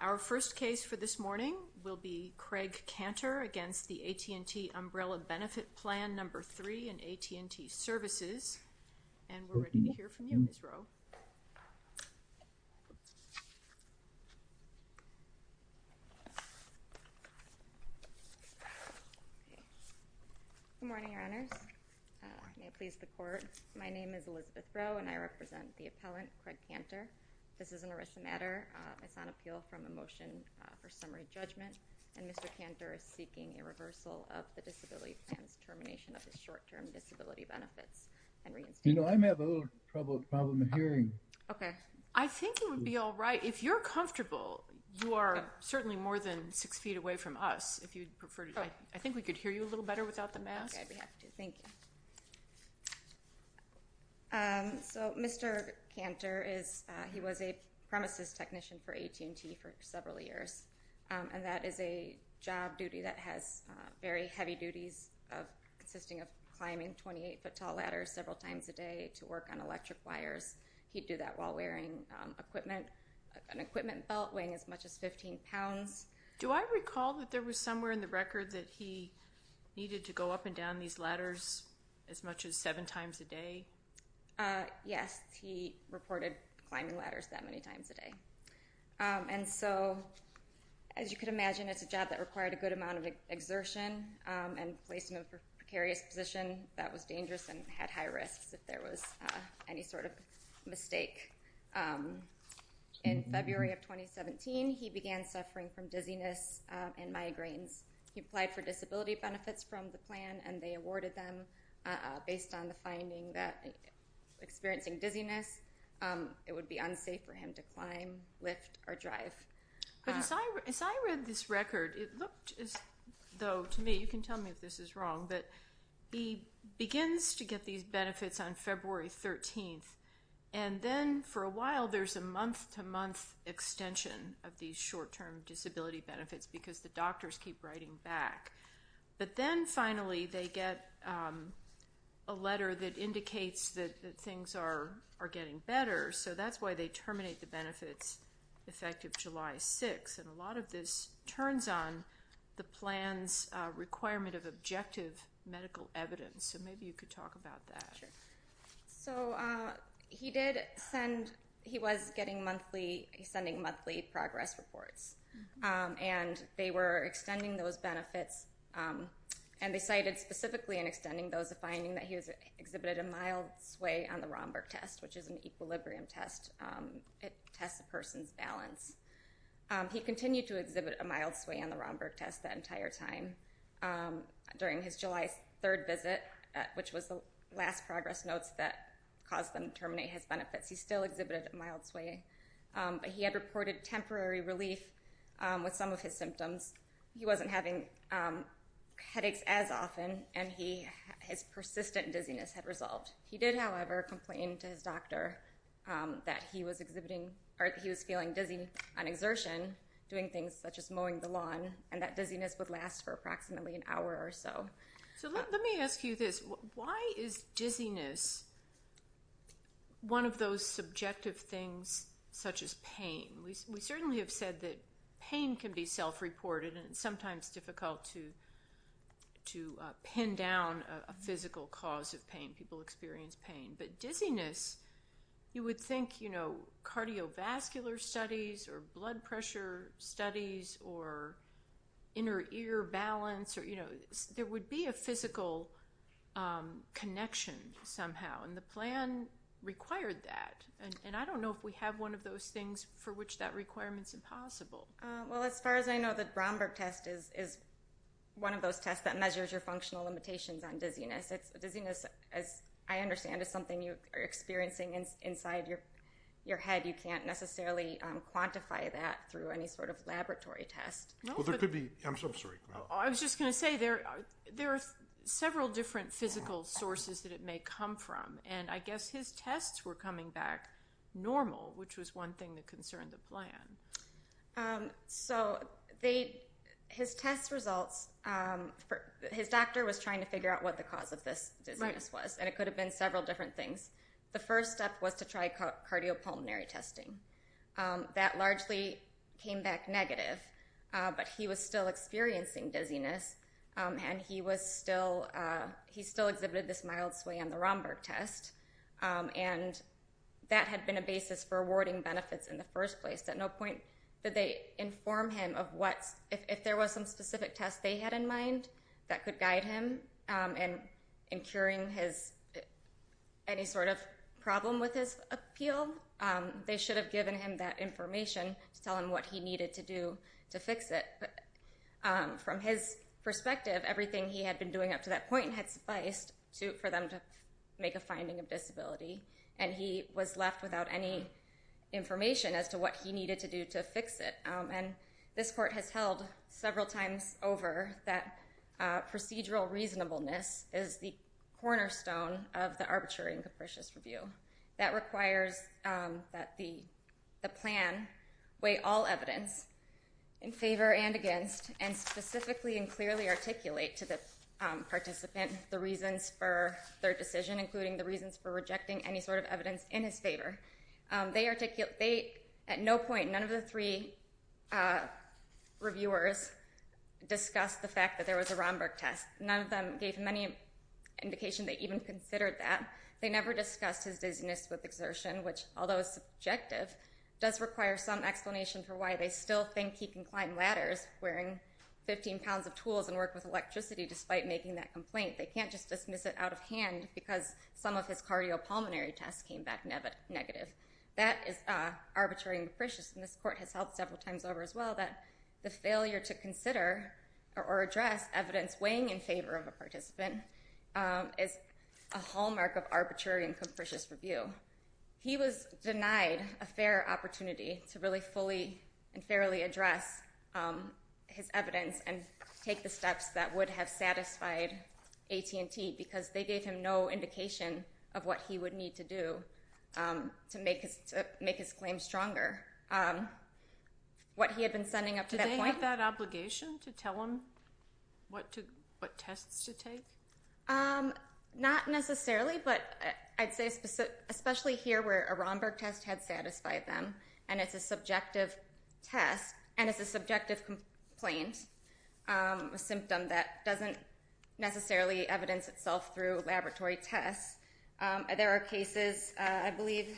Our first case for this morning will be Craig Canter against the AT&T Umbrella Benefit Plan No. 3 in AT&T Services, and we're ready to hear from you, Ms. Rowe. Good morning, Your Honors. May it please the Court. My name is Elizabeth Rowe, and I represent the appellant, Craig Canter. This is an arrest of matter. It's on appeal from a motion for summary judgment, and Mr. Canter is seeking a reversal of the disability plan's termination of his short-term disability benefits and reinstatement. You know, I may have a little problem hearing. Okay. I think you would be all right. If you're comfortable, you are certainly more than six feet away from us, if you'd prefer to. I think we could hear you a little better without the mask. Okay, we have to. Thank you. So Mr. Canter is, he was a premises technician for AT&T for several years, and that is a job duty that has very heavy duties consisting of climbing 28-foot tall ladders several times a day to work on electric wires. He'd do that while wearing equipment, an equipment belt weighing as much as 15 pounds. Do I recall that there was somewhere in the record that he needed to go up and down these ladders as much as seven times a day? Yes, he reported climbing ladders that many times a day. And so, as you could imagine, it's a job that required a good amount of exertion and placement for precarious position that was dangerous and had high risks if there was any sort of mistake. In February of 2017, he began suffering from dizziness and migraines. He applied for disability based on the finding that experiencing dizziness, it would be unsafe for him to climb, lift, or drive. But as I read this record, it looked as though, to me, you can tell me if this is wrong, but he begins to get these benefits on February 13th, and then for a while there's a month-to-month extension of these short-term disability benefits because the doctors keep writing back. But then finally they get a letter that indicates that things are getting better, so that's why they terminate the benefits effective July 6th. And a lot of this turns on the plan's requirement of objective medical evidence, so maybe you could talk about that. So he was sending monthly progress reports, and they were extending those benefits, and they cited specifically in extending those a finding that he exhibited a mild sway on the Romberg test, which is an equilibrium test. It tests a person's balance. He continued to exhibit a mild sway on the Romberg test that entire time during his July 3rd visit, which was the last progress notes that caused them to terminate his benefits. He still exhibited a mild sway, but he had reported temporary relief with some of his symptoms. He wasn't having headaches as often, and his persistent dizziness had resolved. He did, however, complain to his doctor that he was feeling dizzy on exertion doing things such as mowing the lawn, and that dizziness would last for approximately an hour or so. So let me ask you this. Why is dizziness one of those subjective things such as pain? We certainly have said that pain can be self-reported, and it's sometimes difficult to pin down a physical cause of pain. People experience pain. But dizziness, you would think, you studies or inner ear balance, there would be a physical connection somehow, and the plan required that. And I don't know if we have one of those things for which that requirement is impossible. Well, as far as I know, the Romberg test is one of those tests that measures your functional limitations on dizziness. Dizziness, as I understand, is something you are experiencing inside your head. You can't necessarily quantify that through any sort of laboratory test. I was just going to say, there are several different physical sources that it may come from, and I guess his tests were coming back normal, which was one thing that concerned the plan. So his test results, his doctor was trying to figure out what the cause of this dizziness was, and it could have been several different things. The first step was to try cardiopulmonary testing. That largely came back negative, but he was still experiencing dizziness, and he was still, he still exhibited this mild sway on the Romberg test, and that had been a basis for awarding benefits in the first place. At no point did they inform him of what, if there was some specific test they had in mind that could guide him in curing his, any sort of problem with his appeal, they should have given him that information to tell him what he needed to do to fix it. But from his perspective, everything he had been doing up to that point had sufficed for them to make a finding of disability, and he was left without any information as to what he needed to do to fix it. And this court has held several times over that procedural reasonableness is the cornerstone of the arbitrary and capricious review. That requires that the plan weigh all evidence in favor and against, and specifically and clearly articulate to the participant the reasons for their decision, including the reasons for rejecting any sort of evidence in his favor. They articulate, they, at no point, none of the three reviewers discussed the fact that there was a Romberg test. None of them gave many indication they even considered that. They never discussed his dizziness with exertion, which, although subjective, does require some explanation for why they still think he can climb ladders wearing 15 pounds of tools and work with electricity despite making that complaint. They can't just dismiss it out of hand because some of his cardiopulmonary tests came back negative. That is arbitrary and capricious, and this court has held several times over as well that the failure to consider or address evidence weighing in favor of a participant is a hallmark of arbitrary and capricious review. He was denied a fair opportunity to really fully and fairly address his evidence and take the steps that would have satisfied AT&T because they gave him no indication of what he would need to do to make his claim stronger. What he had been sending up to that point... Did they have that obligation to tell him what tests to take? Not necessarily, but I'd say especially here where a Romberg test had satisfied them, and it's a subjective test and it's a subjective complaint, a symptom that doesn't necessarily evidence itself through laboratory tests. There are cases, I believe,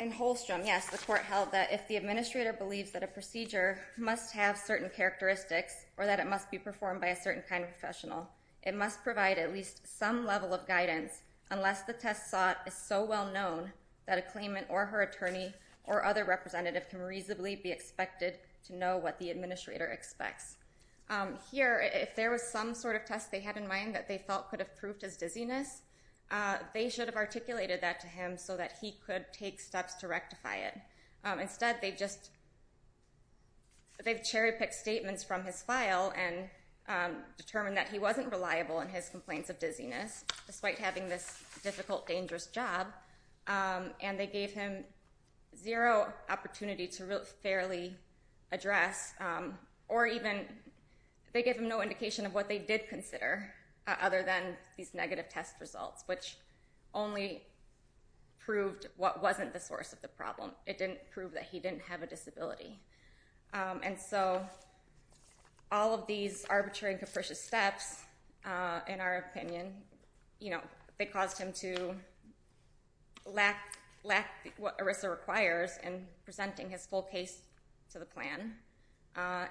in Holstrom, yes, the court held that if the administrator believes that a procedure must have certain characteristics or that it must be performed by a certain kind of professional, it must provide at least some level of guidance unless the test sought is so well known that a claimant or her attorney or other representative can reasonably be expected to know what the administrator expects. Here, if there was some sort of test they had in mind that they felt could have proved his dizziness, they should have articulated that to him so that he could take steps to rectify it. Instead, they've cherry-picked statements from his file and determined that he wasn't reliable in his complaints of dizziness, despite having this difficult, dangerous job, and they gave him zero opportunity to fairly address, or even they gave him no indication of what they did consider other than these negative test results, which only proved what wasn't the source of the problem. It didn't prove that he didn't have a disability. And so all of these arbitrary and capricious steps, in our opinion, they caused him to lack what ERISA requires in presenting his full case to the plan,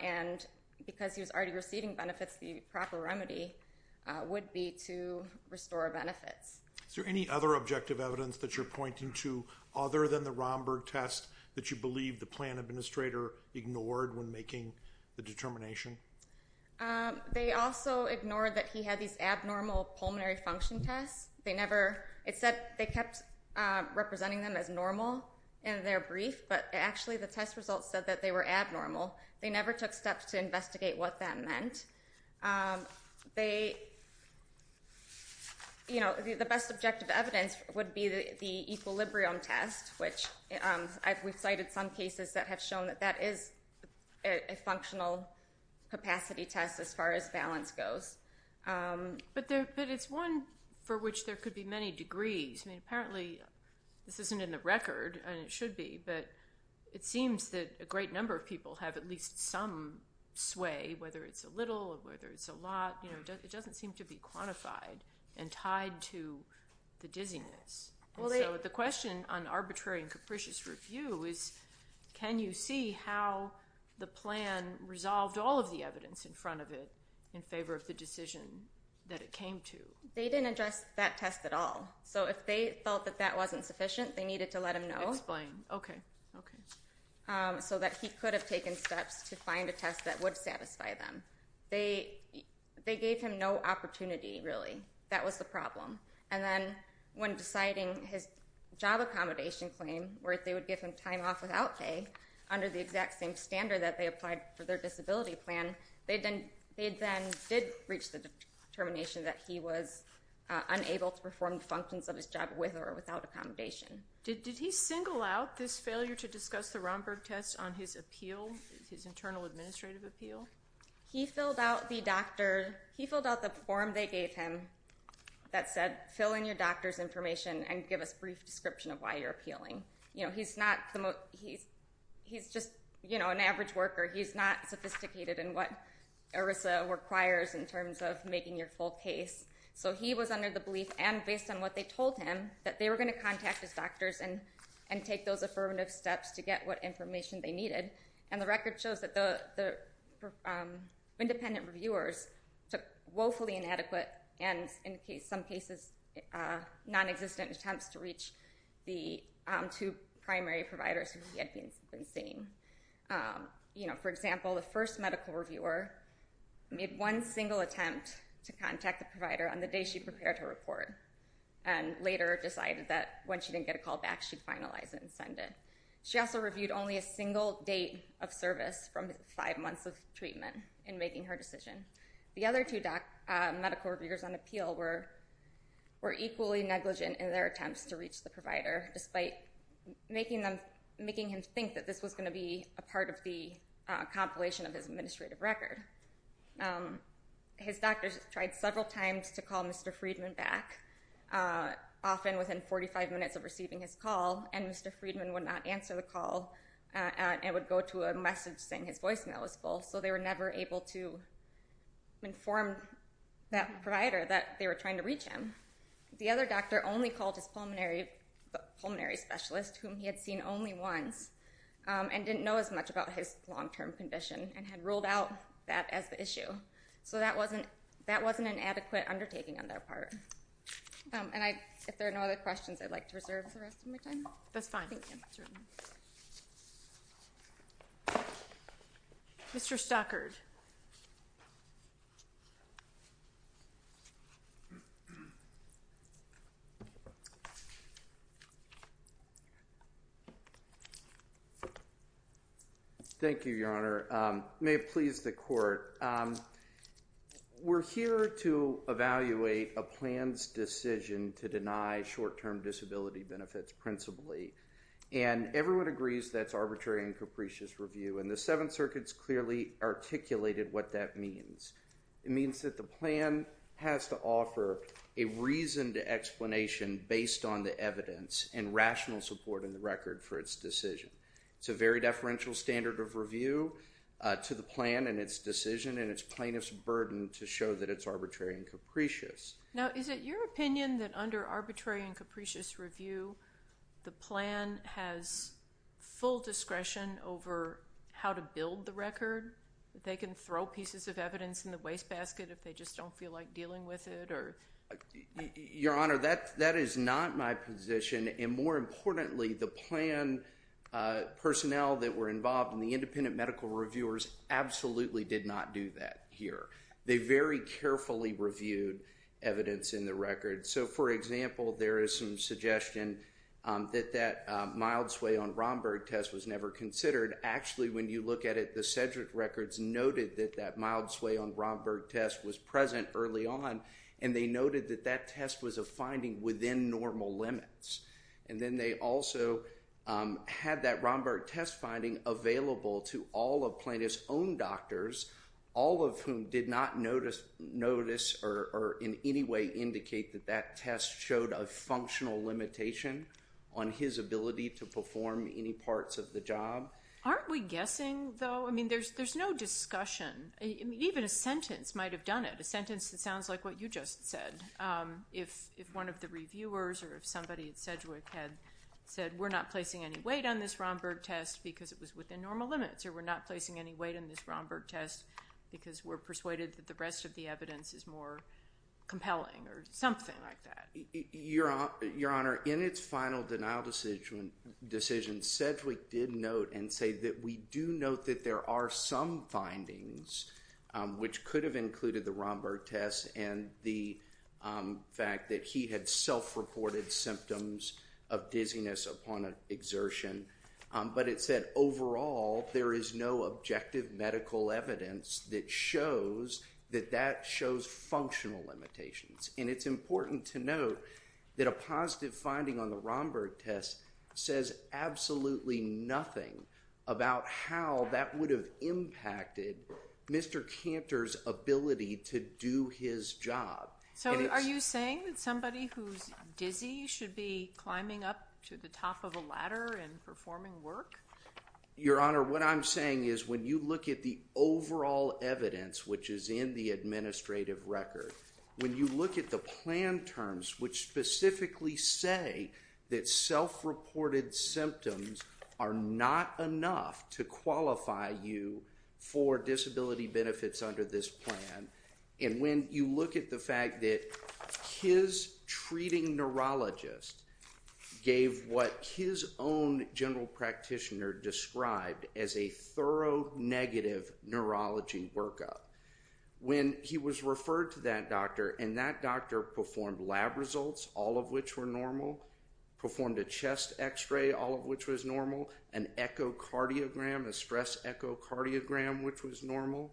and because he was already receiving benefits, the proper remedy would be to restore benefits. Is there any other objective evidence that you're pointing to, other than the Romberg test, that you believe the plan administrator ignored when making the determination? They also ignored that he had these abnormal pulmonary function tests. It said they kept representing them as normal in their brief, but actually the test results said that they were abnormal. They never took steps to investigate what that meant. The best objective evidence would be the equilibrium test, which we've cited some cases that have shown that that is a functional capacity test as far as balance goes. But it's one for which there could be many degrees. Apparently, this isn't in the record, and it should be, but it seems that a great number of people have at least some sway, whether it's a little or whether it's a lot. It doesn't seem to be quantified and tied to the dizziness. The question on arbitrary and capricious review is, can you see how the plan resolved all of the evidence in front of it in favor of the decision that it came to? They didn't address that test at all, so if they felt that that wasn't sufficient, they needed to let him know so that he could have taken steps to find a test that would satisfy them. They gave him no opportunity, really. That was the problem. And then when deciding his job accommodation claim, where they would give him time off without pay under the exact same standard that they applied for their disability plan, they then did reach the determination that he was unable to perform the functions of his job with or without accommodation. Did he single out this failure to discuss the Romberg test on his appeal, his internal administrative appeal? He filled out the form they gave him that said, fill in your doctor's information and give us a brief description of why you're appealing. He's just an average worker. He's not sophisticated in what ERISA requires in terms of making your full case. So he was under the belief, and based on what they told him, that they were going to contact his doctors and take those affirmative steps to get what information they needed. And the record shows that the independent reviewers took woefully inadequate and in some cases nonexistent attempts to reach the two primary providers who he had been seeing. For example, the first medical reviewer made one single attempt to contact the provider on the day she prepared her report and later decided that when she didn't get a call back, she'd finalize it and send it. She also reviewed only a single date of service from his five months of treatment in making her decision. The other two medical reviewers on appeal were equally negligent in their attempts to reach the provider, despite making him think that this was going to be a part of the compilation of his administrative record. His doctors tried several times to call Mr. Friedman back, often within 45 minutes of receiving his call, and Mr. Friedman would not answer the call and would go to a message saying his voicemail was full, so they were never able to inform that provider that they were trying to reach him. The other doctor only called his pulmonary specialist, whom he had seen only once and didn't know as much about his long-term condition and had ruled out that as the issue. So that wasn't an adequate undertaking on their part. If there are no other questions, I'd like to reserve the rest of my time. That's fine. Thank you. Mr. Stockard. Thank you, Your Honor. May it please the Court, we're here to evaluate a plan's decision to deny short-term disability benefits principally, and everyone agrees that's arbitrary and capricious review, and the Seventh Circuit's clearly articulated what that means. It means that the plan has to offer a reasoned explanation based on the evidence and rational support in the record for its decision. It's a very deferential standard of review to the plan and its decision and its plaintiff's burden to show that it's arbitrary and capricious. Now, is it your opinion that under arbitrary and capricious review, the plan has full discretion over how to build the record, that they can throw pieces of evidence in the wastebasket if they just don't feel like dealing with it? Your Honor, that is not my position. And more importantly, the plan personnel that were involved and the independent medical reviewers absolutely did not do that here. They very carefully reviewed evidence in the record. So, for example, there is some suggestion that that mild sway on Romberg test was never considered. Actually, when you look at it, the Sedgwick records noted that that mild sway on Romberg test was present early on, and they noted that that test was a finding within normal limits. And then they also had that Romberg test finding available to all of plaintiff's own doctors, all of whom did not notice or in any way indicate that that test showed a functional limitation on his ability to perform any parts of the job. Aren't we guessing, though? I mean, there's no discussion. Even a sentence might have done it, a sentence that sounds like what you just said. If one of the reviewers or if somebody at Sedgwick had said, We're not placing any weight on this Romberg test because it was within normal limits or we're not placing any weight on this Romberg test because we're persuaded that the rest of the evidence is more compelling or something like that. Your Honor, in its final denial decision, Sedgwick did note and say that we do note that there are some findings which could have included the Romberg test and the fact that he had self-reported symptoms of dizziness upon exertion. But it said, Overall, there is no objective medical evidence that shows that that shows functional limitations. And it's important to note that a positive finding on the Romberg test says absolutely nothing about how that would have impacted Mr. Cantor's ability to do his job. So are you saying that somebody who's dizzy should be climbing up to the top of a ladder and performing work? Your Honor, what I'm saying is when you look at the overall evidence which is in the administrative record, when you look at the plan terms which specifically say that self-reported symptoms are not enough to qualify you for disability benefits under this plan, and when you look at the fact that his treating neurologist gave what his own general practitioner described as a thorough negative neurology workup, when he was referred to that doctor and that doctor performed lab results, all of which were normal, performed a chest x-ray, all of which was normal, an echocardiogram, a stress echocardiogram, which was normal,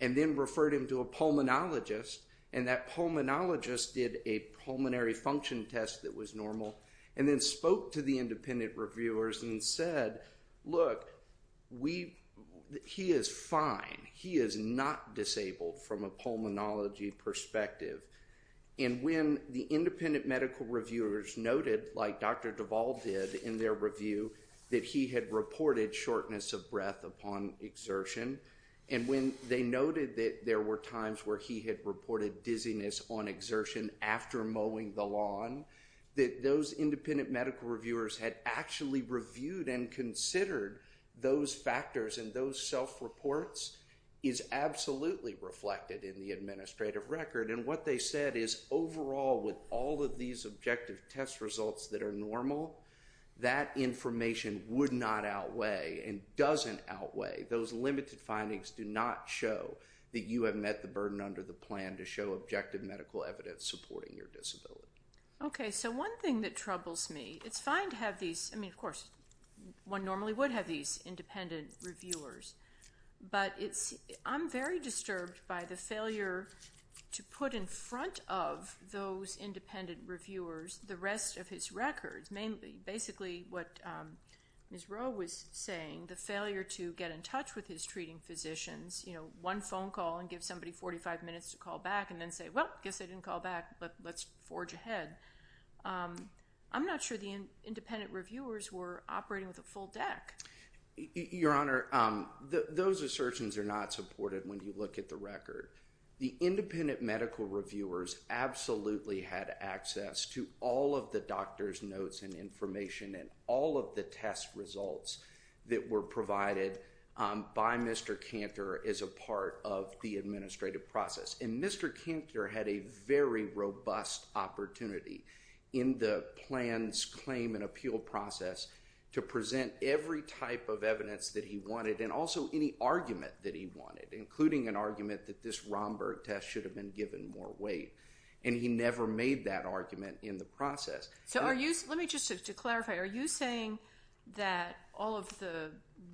and then referred him to a pulmonologist, and that pulmonologist did a pulmonary function test that was normal and then spoke to the independent reviewers and said, Look, he is fine. He is not disabled from a pulmonology perspective. And when the independent medical reviewers noted, like Dr. Duval did in their review, that he had reported shortness of breath upon exertion, and when they noted that there were times where he had reported dizziness on exertion after mowing the lawn, that those independent medical reviewers had actually reviewed and considered those factors and those self-reports is absolutely reflected in the administrative record. And what they said is, overall, with all of these objective test results that are normal, that information would not outweigh and doesn't outweigh. Those limited findings do not show that you have met the burden under the plan to show objective medical evidence supporting your disability. Okay, so one thing that troubles me, it's fine to have these, I mean, of course, one normally would have these independent reviewers, but I'm very disturbed by the failure to put in front of those independent reviewers the rest of his records, mainly. Basically, what Ms. Rowe was saying, the failure to get in touch with his treating physicians, you know, one phone call and give somebody 45 minutes to call back and then say, well, I guess they didn't call back, but let's forge ahead. I'm not sure the independent reviewers were operating with a full deck. Your Honor, those assertions are not supported when you look at the record. The independent medical reviewers absolutely had access to all of the doctor's notes and information and all of the test results that were provided by Mr. Cantor as a part of the administrative process. And Mr. Cantor had a very robust opportunity in the plans, claim, and appeal process to present every type of evidence that he wanted and also any argument that he wanted, including an argument that this Romberg test should have been given more weight. And he never made that argument in the process. So let me just, to clarify, are you saying that all of the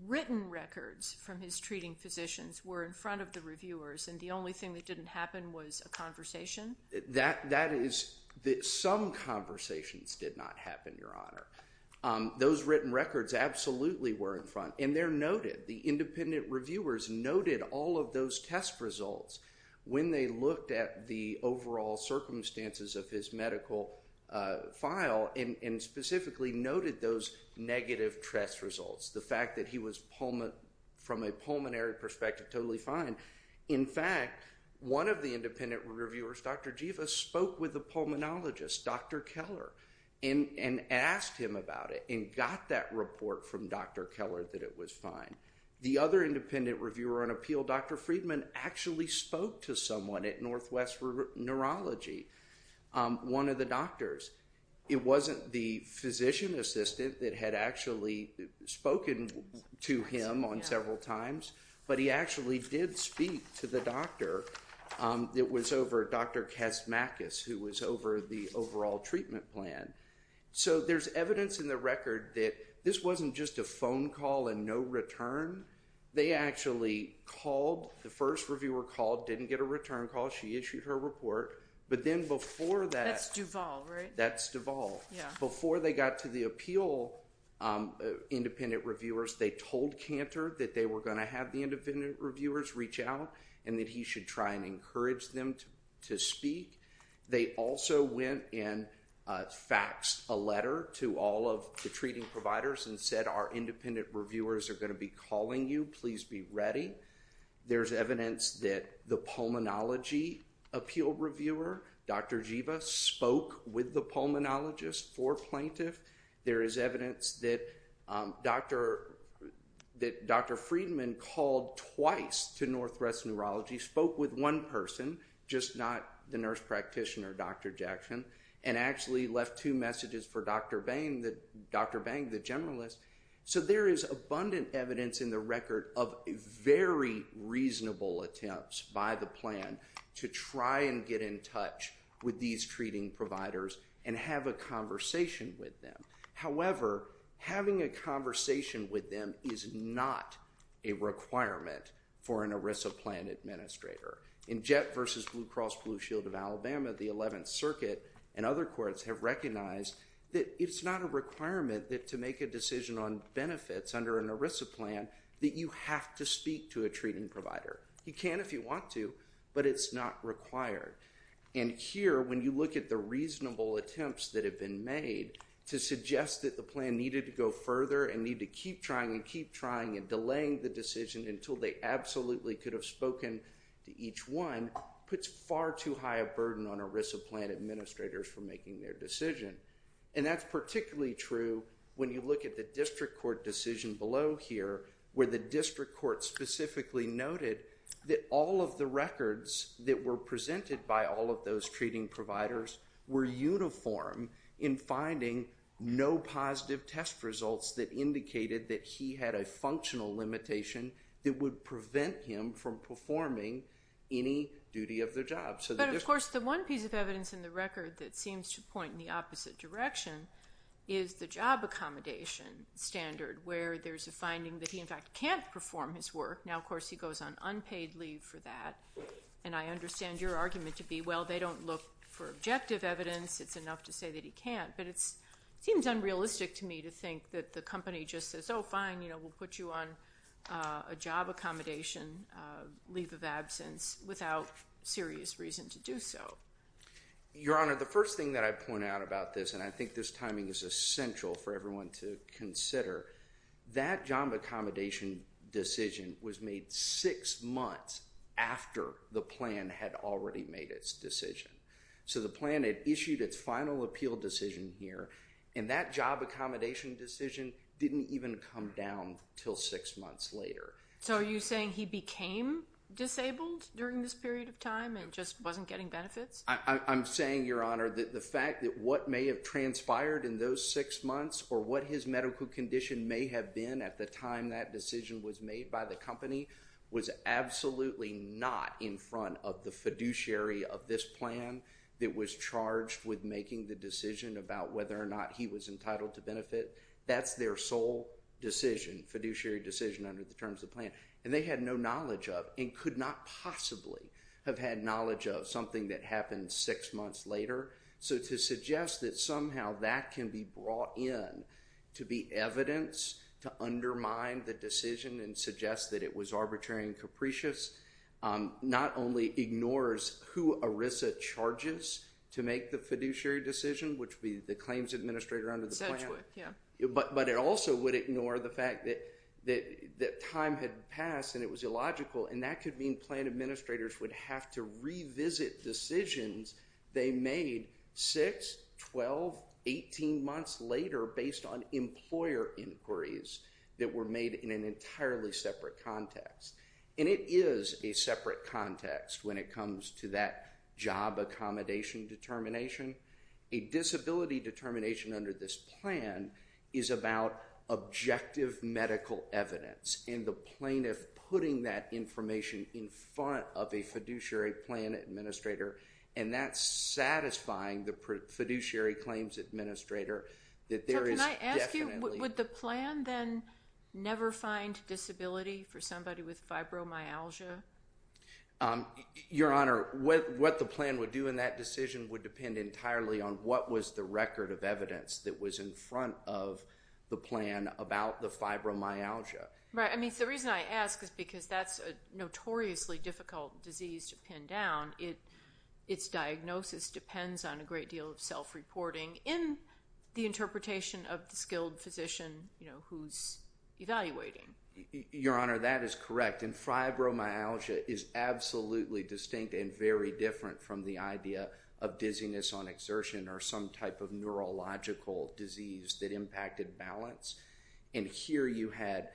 written records from his treating physicians were in front of the reviewers and the only thing that didn't happen was a conversation? That is, some conversations did not happen, Your Honor. Those written records absolutely were in front, and they're noted. The independent reviewers noted all of those test results when they looked at the overall circumstances of his medical file and specifically noted those negative test results, the fact that he was, from a pulmonary perspective, totally fine. In fact, one of the independent reviewers, Dr. Jiva, spoke with a pulmonologist, Dr. Keller, and asked him about it and got that report from Dr. Keller that it was fine. The other independent reviewer on appeal, Dr. Friedman, actually spoke to someone at Northwest Neurology, one of the doctors. It wasn't the physician assistant that had actually spoken to him on several times, but he actually did speak to the doctor. It was over Dr. Kazmakas, who was over the overall treatment plan. So there's evidence in the record that this wasn't just a phone call and no return. They actually called. The first reviewer called, didn't get a return call. She issued her report, but then before that... That's Duvall, right? That's Duvall. Before they got to the appeal independent reviewers, they told Cantor that they were going to have the independent reviewers reach out and that he should try and encourage them to speak. They also went and faxed a letter to all of the treating providers and said our independent reviewers are going to be calling you. Please be ready. There's evidence that the pulmonology appeal reviewer, Dr. Jiva, spoke with the pulmonologist for plaintiff. There is evidence that Dr. Friedman called twice to Northwest Neurology, spoke with one person, just not the nurse practitioner, Dr. Jackson, and actually left two messages for Dr. Bang, the generalist. So there is abundant evidence in the record of very reasonable attempts by the plan to try and get in touch with these treating providers and have a conversation with them. However, having a conversation with them is not a requirement for an ERISA plan administrator. In Jett v. Blue Cross Blue Shield of Alabama, the 11th Circuit and other courts have recognized that it's not a requirement to make a decision on benefits under an ERISA plan that you have to speak to a treating provider. You can if you want to, but it's not required. And here, when you look at the reasonable attempts that have been made to suggest that the plan needed to go further and needed to keep trying and keep trying and delaying the decision until they absolutely could have spoken to each one, puts far too high a burden on ERISA plan administrators for making their decision. And that's particularly true when you look at the district court decision below here where the district court specifically noted that all of the records that were presented by all of those treating providers were uniform in finding no positive test results that indicated that he had a functional limitation that would prevent him from performing any duty of the job. But, of course, the one piece of evidence in the record that seems to point in the opposite direction is the job accommodation standard where there's a finding that he, in fact, can't perform his work. Now, of course, he goes on unpaid leave for that. And I understand your argument to be, well, they don't look for objective evidence. It's enough to say that he can't. But it seems unrealistic to me to think that the company just says, oh, fine, we'll put you on a job accommodation leave of absence without serious reason to do so. Your Honor, the first thing that I point out about this, and I think this timing is essential for everyone to consider, that job accommodation decision was made six months after the plan had already made its decision. So the plan had issued its final appeal decision here, and that job accommodation decision didn't even come down until six months later. So are you saying he became disabled during this period of time and just wasn't getting benefits? I'm saying, Your Honor, that the fact that what may have transpired in those six months or what his medical condition may have been at the time that decision was made by the company was absolutely not in front of the fiduciary of this plan that was charged with making the decision that that's their sole decision, fiduciary decision under the terms of the plan. And they had no knowledge of and could not possibly have had knowledge of something that happened six months later. So to suggest that somehow that can be brought in to be evidence to undermine the decision and suggest that it was arbitrary and capricious not only ignores who ERISA charges to make the fiduciary decision, which would be the claims administrator under the plan, but it also would ignore the fact that time had passed and it was illogical, and that could mean plan administrators would have to revisit decisions they made six, 12, 18 months later based on employer inquiries that were made in an entirely separate context. And it is a separate context when it comes to that job accommodation determination. A disability determination under this plan is about objective medical evidence and the plaintiff putting that information in front of a fiduciary plan administrator and that's satisfying the fiduciary claims administrator that there is definitely... So can I ask you, would the plan then never find disability for somebody with fibromyalgia? Your Honor, what the plan would do in that decision would depend entirely on what was the record of evidence that was in front of the plan about the fibromyalgia. Right. I mean, the reason I ask is because that's a notoriously difficult disease to pin down. Its diagnosis depends on a great deal of self-reporting in the interpretation of the skilled physician who's evaluating. Your Honor, that is correct, and fibromyalgia is absolutely distinct and very different from the idea of dizziness on exertion or some type of neurological disease that impacted balance. And here you had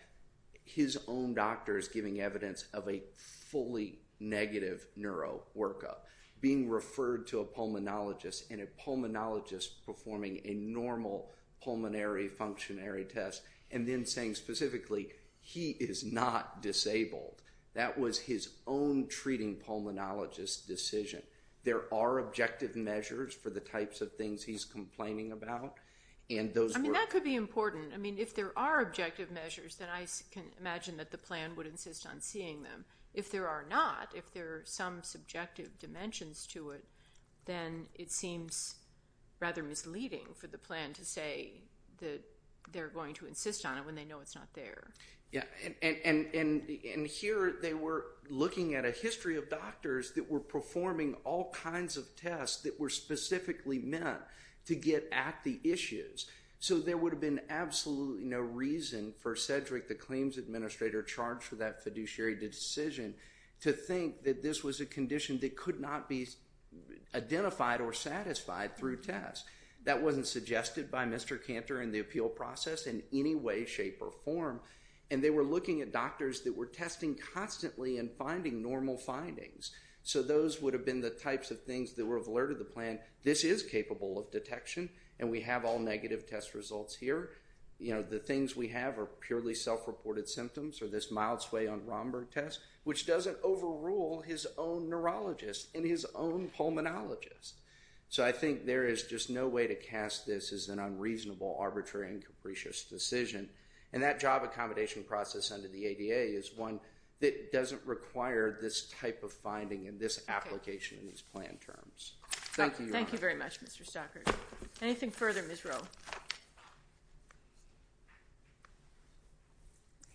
his own doctors giving evidence of a fully negative neuro workup, being referred to a pulmonologist and a pulmonologist performing a normal pulmonary functionary test and then saying specifically, he is not disabled. That was his own treating pulmonologist decision. There are objective measures for the types of things he's complaining about and those were... I mean, that could be important. I mean, if there are objective measures, then I can imagine that the plan would insist on seeing them. If there are not, if there are some subjective dimensions to it, then it seems rather misleading for the plan to say that they're going to insist on it when they know it's not there. Yeah, and here they were looking at a history of doctors that were performing all kinds of tests that were specifically meant to get at the issues. So there would have been absolutely no reason for Cedric, the claims administrator charged for that fiduciary decision, to think that this was a condition that could not be identified or satisfied through tests. That wasn't suggested by Mr. Cantor in the appeal process in any way, shape, or form. And they were looking at doctors that were testing constantly and finding normal findings. So those would have been the types of things that would have alerted the plan, this is capable of detection and we have all negative test results here. You know, the things we have are purely self-reported symptoms or this mild sway on Romberg test, which doesn't overrule his own neurologist and his own pulmonologist. So I think there is just no way to cast this as an unreasonable, arbitrary, and capricious decision. And that job accommodation process under the ADA is one that doesn't require this type of finding and this application in these plan terms. Thank you. Thank you very much, Mr. Stockard. Anything further, Ms. Rowe?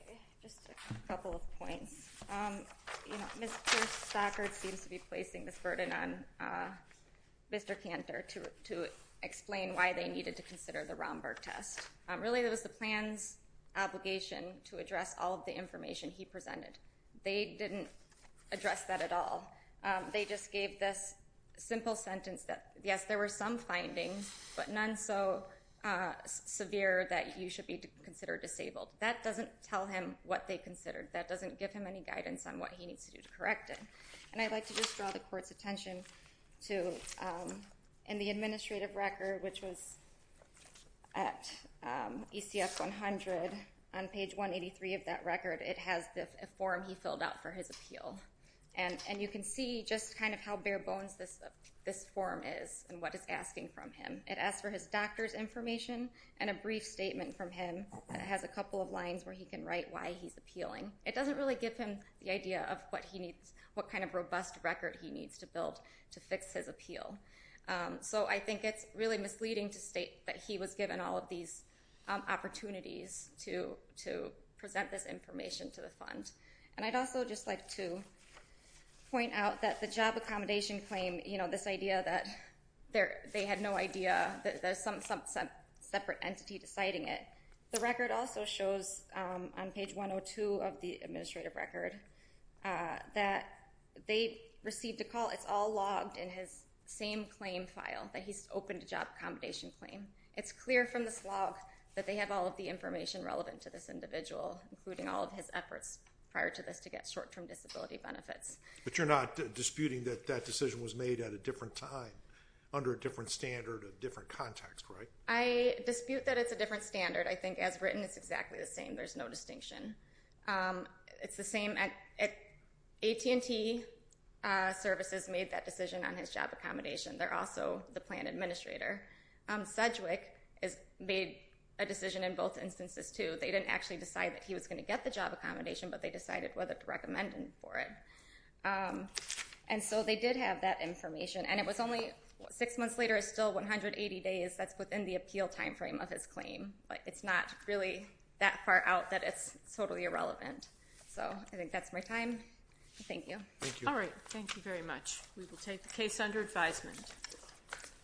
Okay, just a couple of points. You know, Ms. Stockard seems to be placing this burden on Mr. Cantor to explain why they needed to consider the Romberg test. Really, it was the plan's obligation to address all of the information he presented. They didn't address that at all. They just gave this simple sentence that, yes, there were some findings, but none so severe that you should be considered disabled. That doesn't tell him what they considered. That doesn't give him any guidance on what he needs to do to correct it. And I'd like to just draw the Court's attention to the administrative record, which was at ECF 100 on page 183 of that record. It has the form he filled out for his appeal. And you can see just kind of how bare bones this form is and what it's asking from him. It asks for his doctor's information and a brief statement from him. It has a couple of lines where he can write why he's appealing. It doesn't really give him the idea of what kind of robust record he needs to build to fix his appeal. So I think it's really misleading to state that he was given all of these opportunities to present this information to the fund. And I'd also just like to point out that the job accommodation claim, this idea that they had no idea that there's some separate entity deciding it, the record also shows on page 102 of the administrative record that they received a call. It's all logged in his same claim file that he's opened a job accommodation claim. It's clear from this log that they have all of the information relevant to this individual, including all of his efforts prior to this to get short-term disability benefits. But you're not disputing that that decision was made at a different time, under a different standard, a different context, right? I dispute that it's a different standard. I think as written it's exactly the same. There's no distinction. It's the same at AT&T Services made that decision on his job accommodation. They're also the plan administrator. Sedgwick made a decision in both instances too. They didn't actually decide that he was going to get the job accommodation, but they decided whether to recommend him for it. And so they did have that information. And it was only six months later. It's still 180 days. That's within the appeal time frame of his claim. But it's not really that far out that it's totally irrelevant. So I think that's my time. Thank you. All right. Thank you very much. We will take the case under advisement.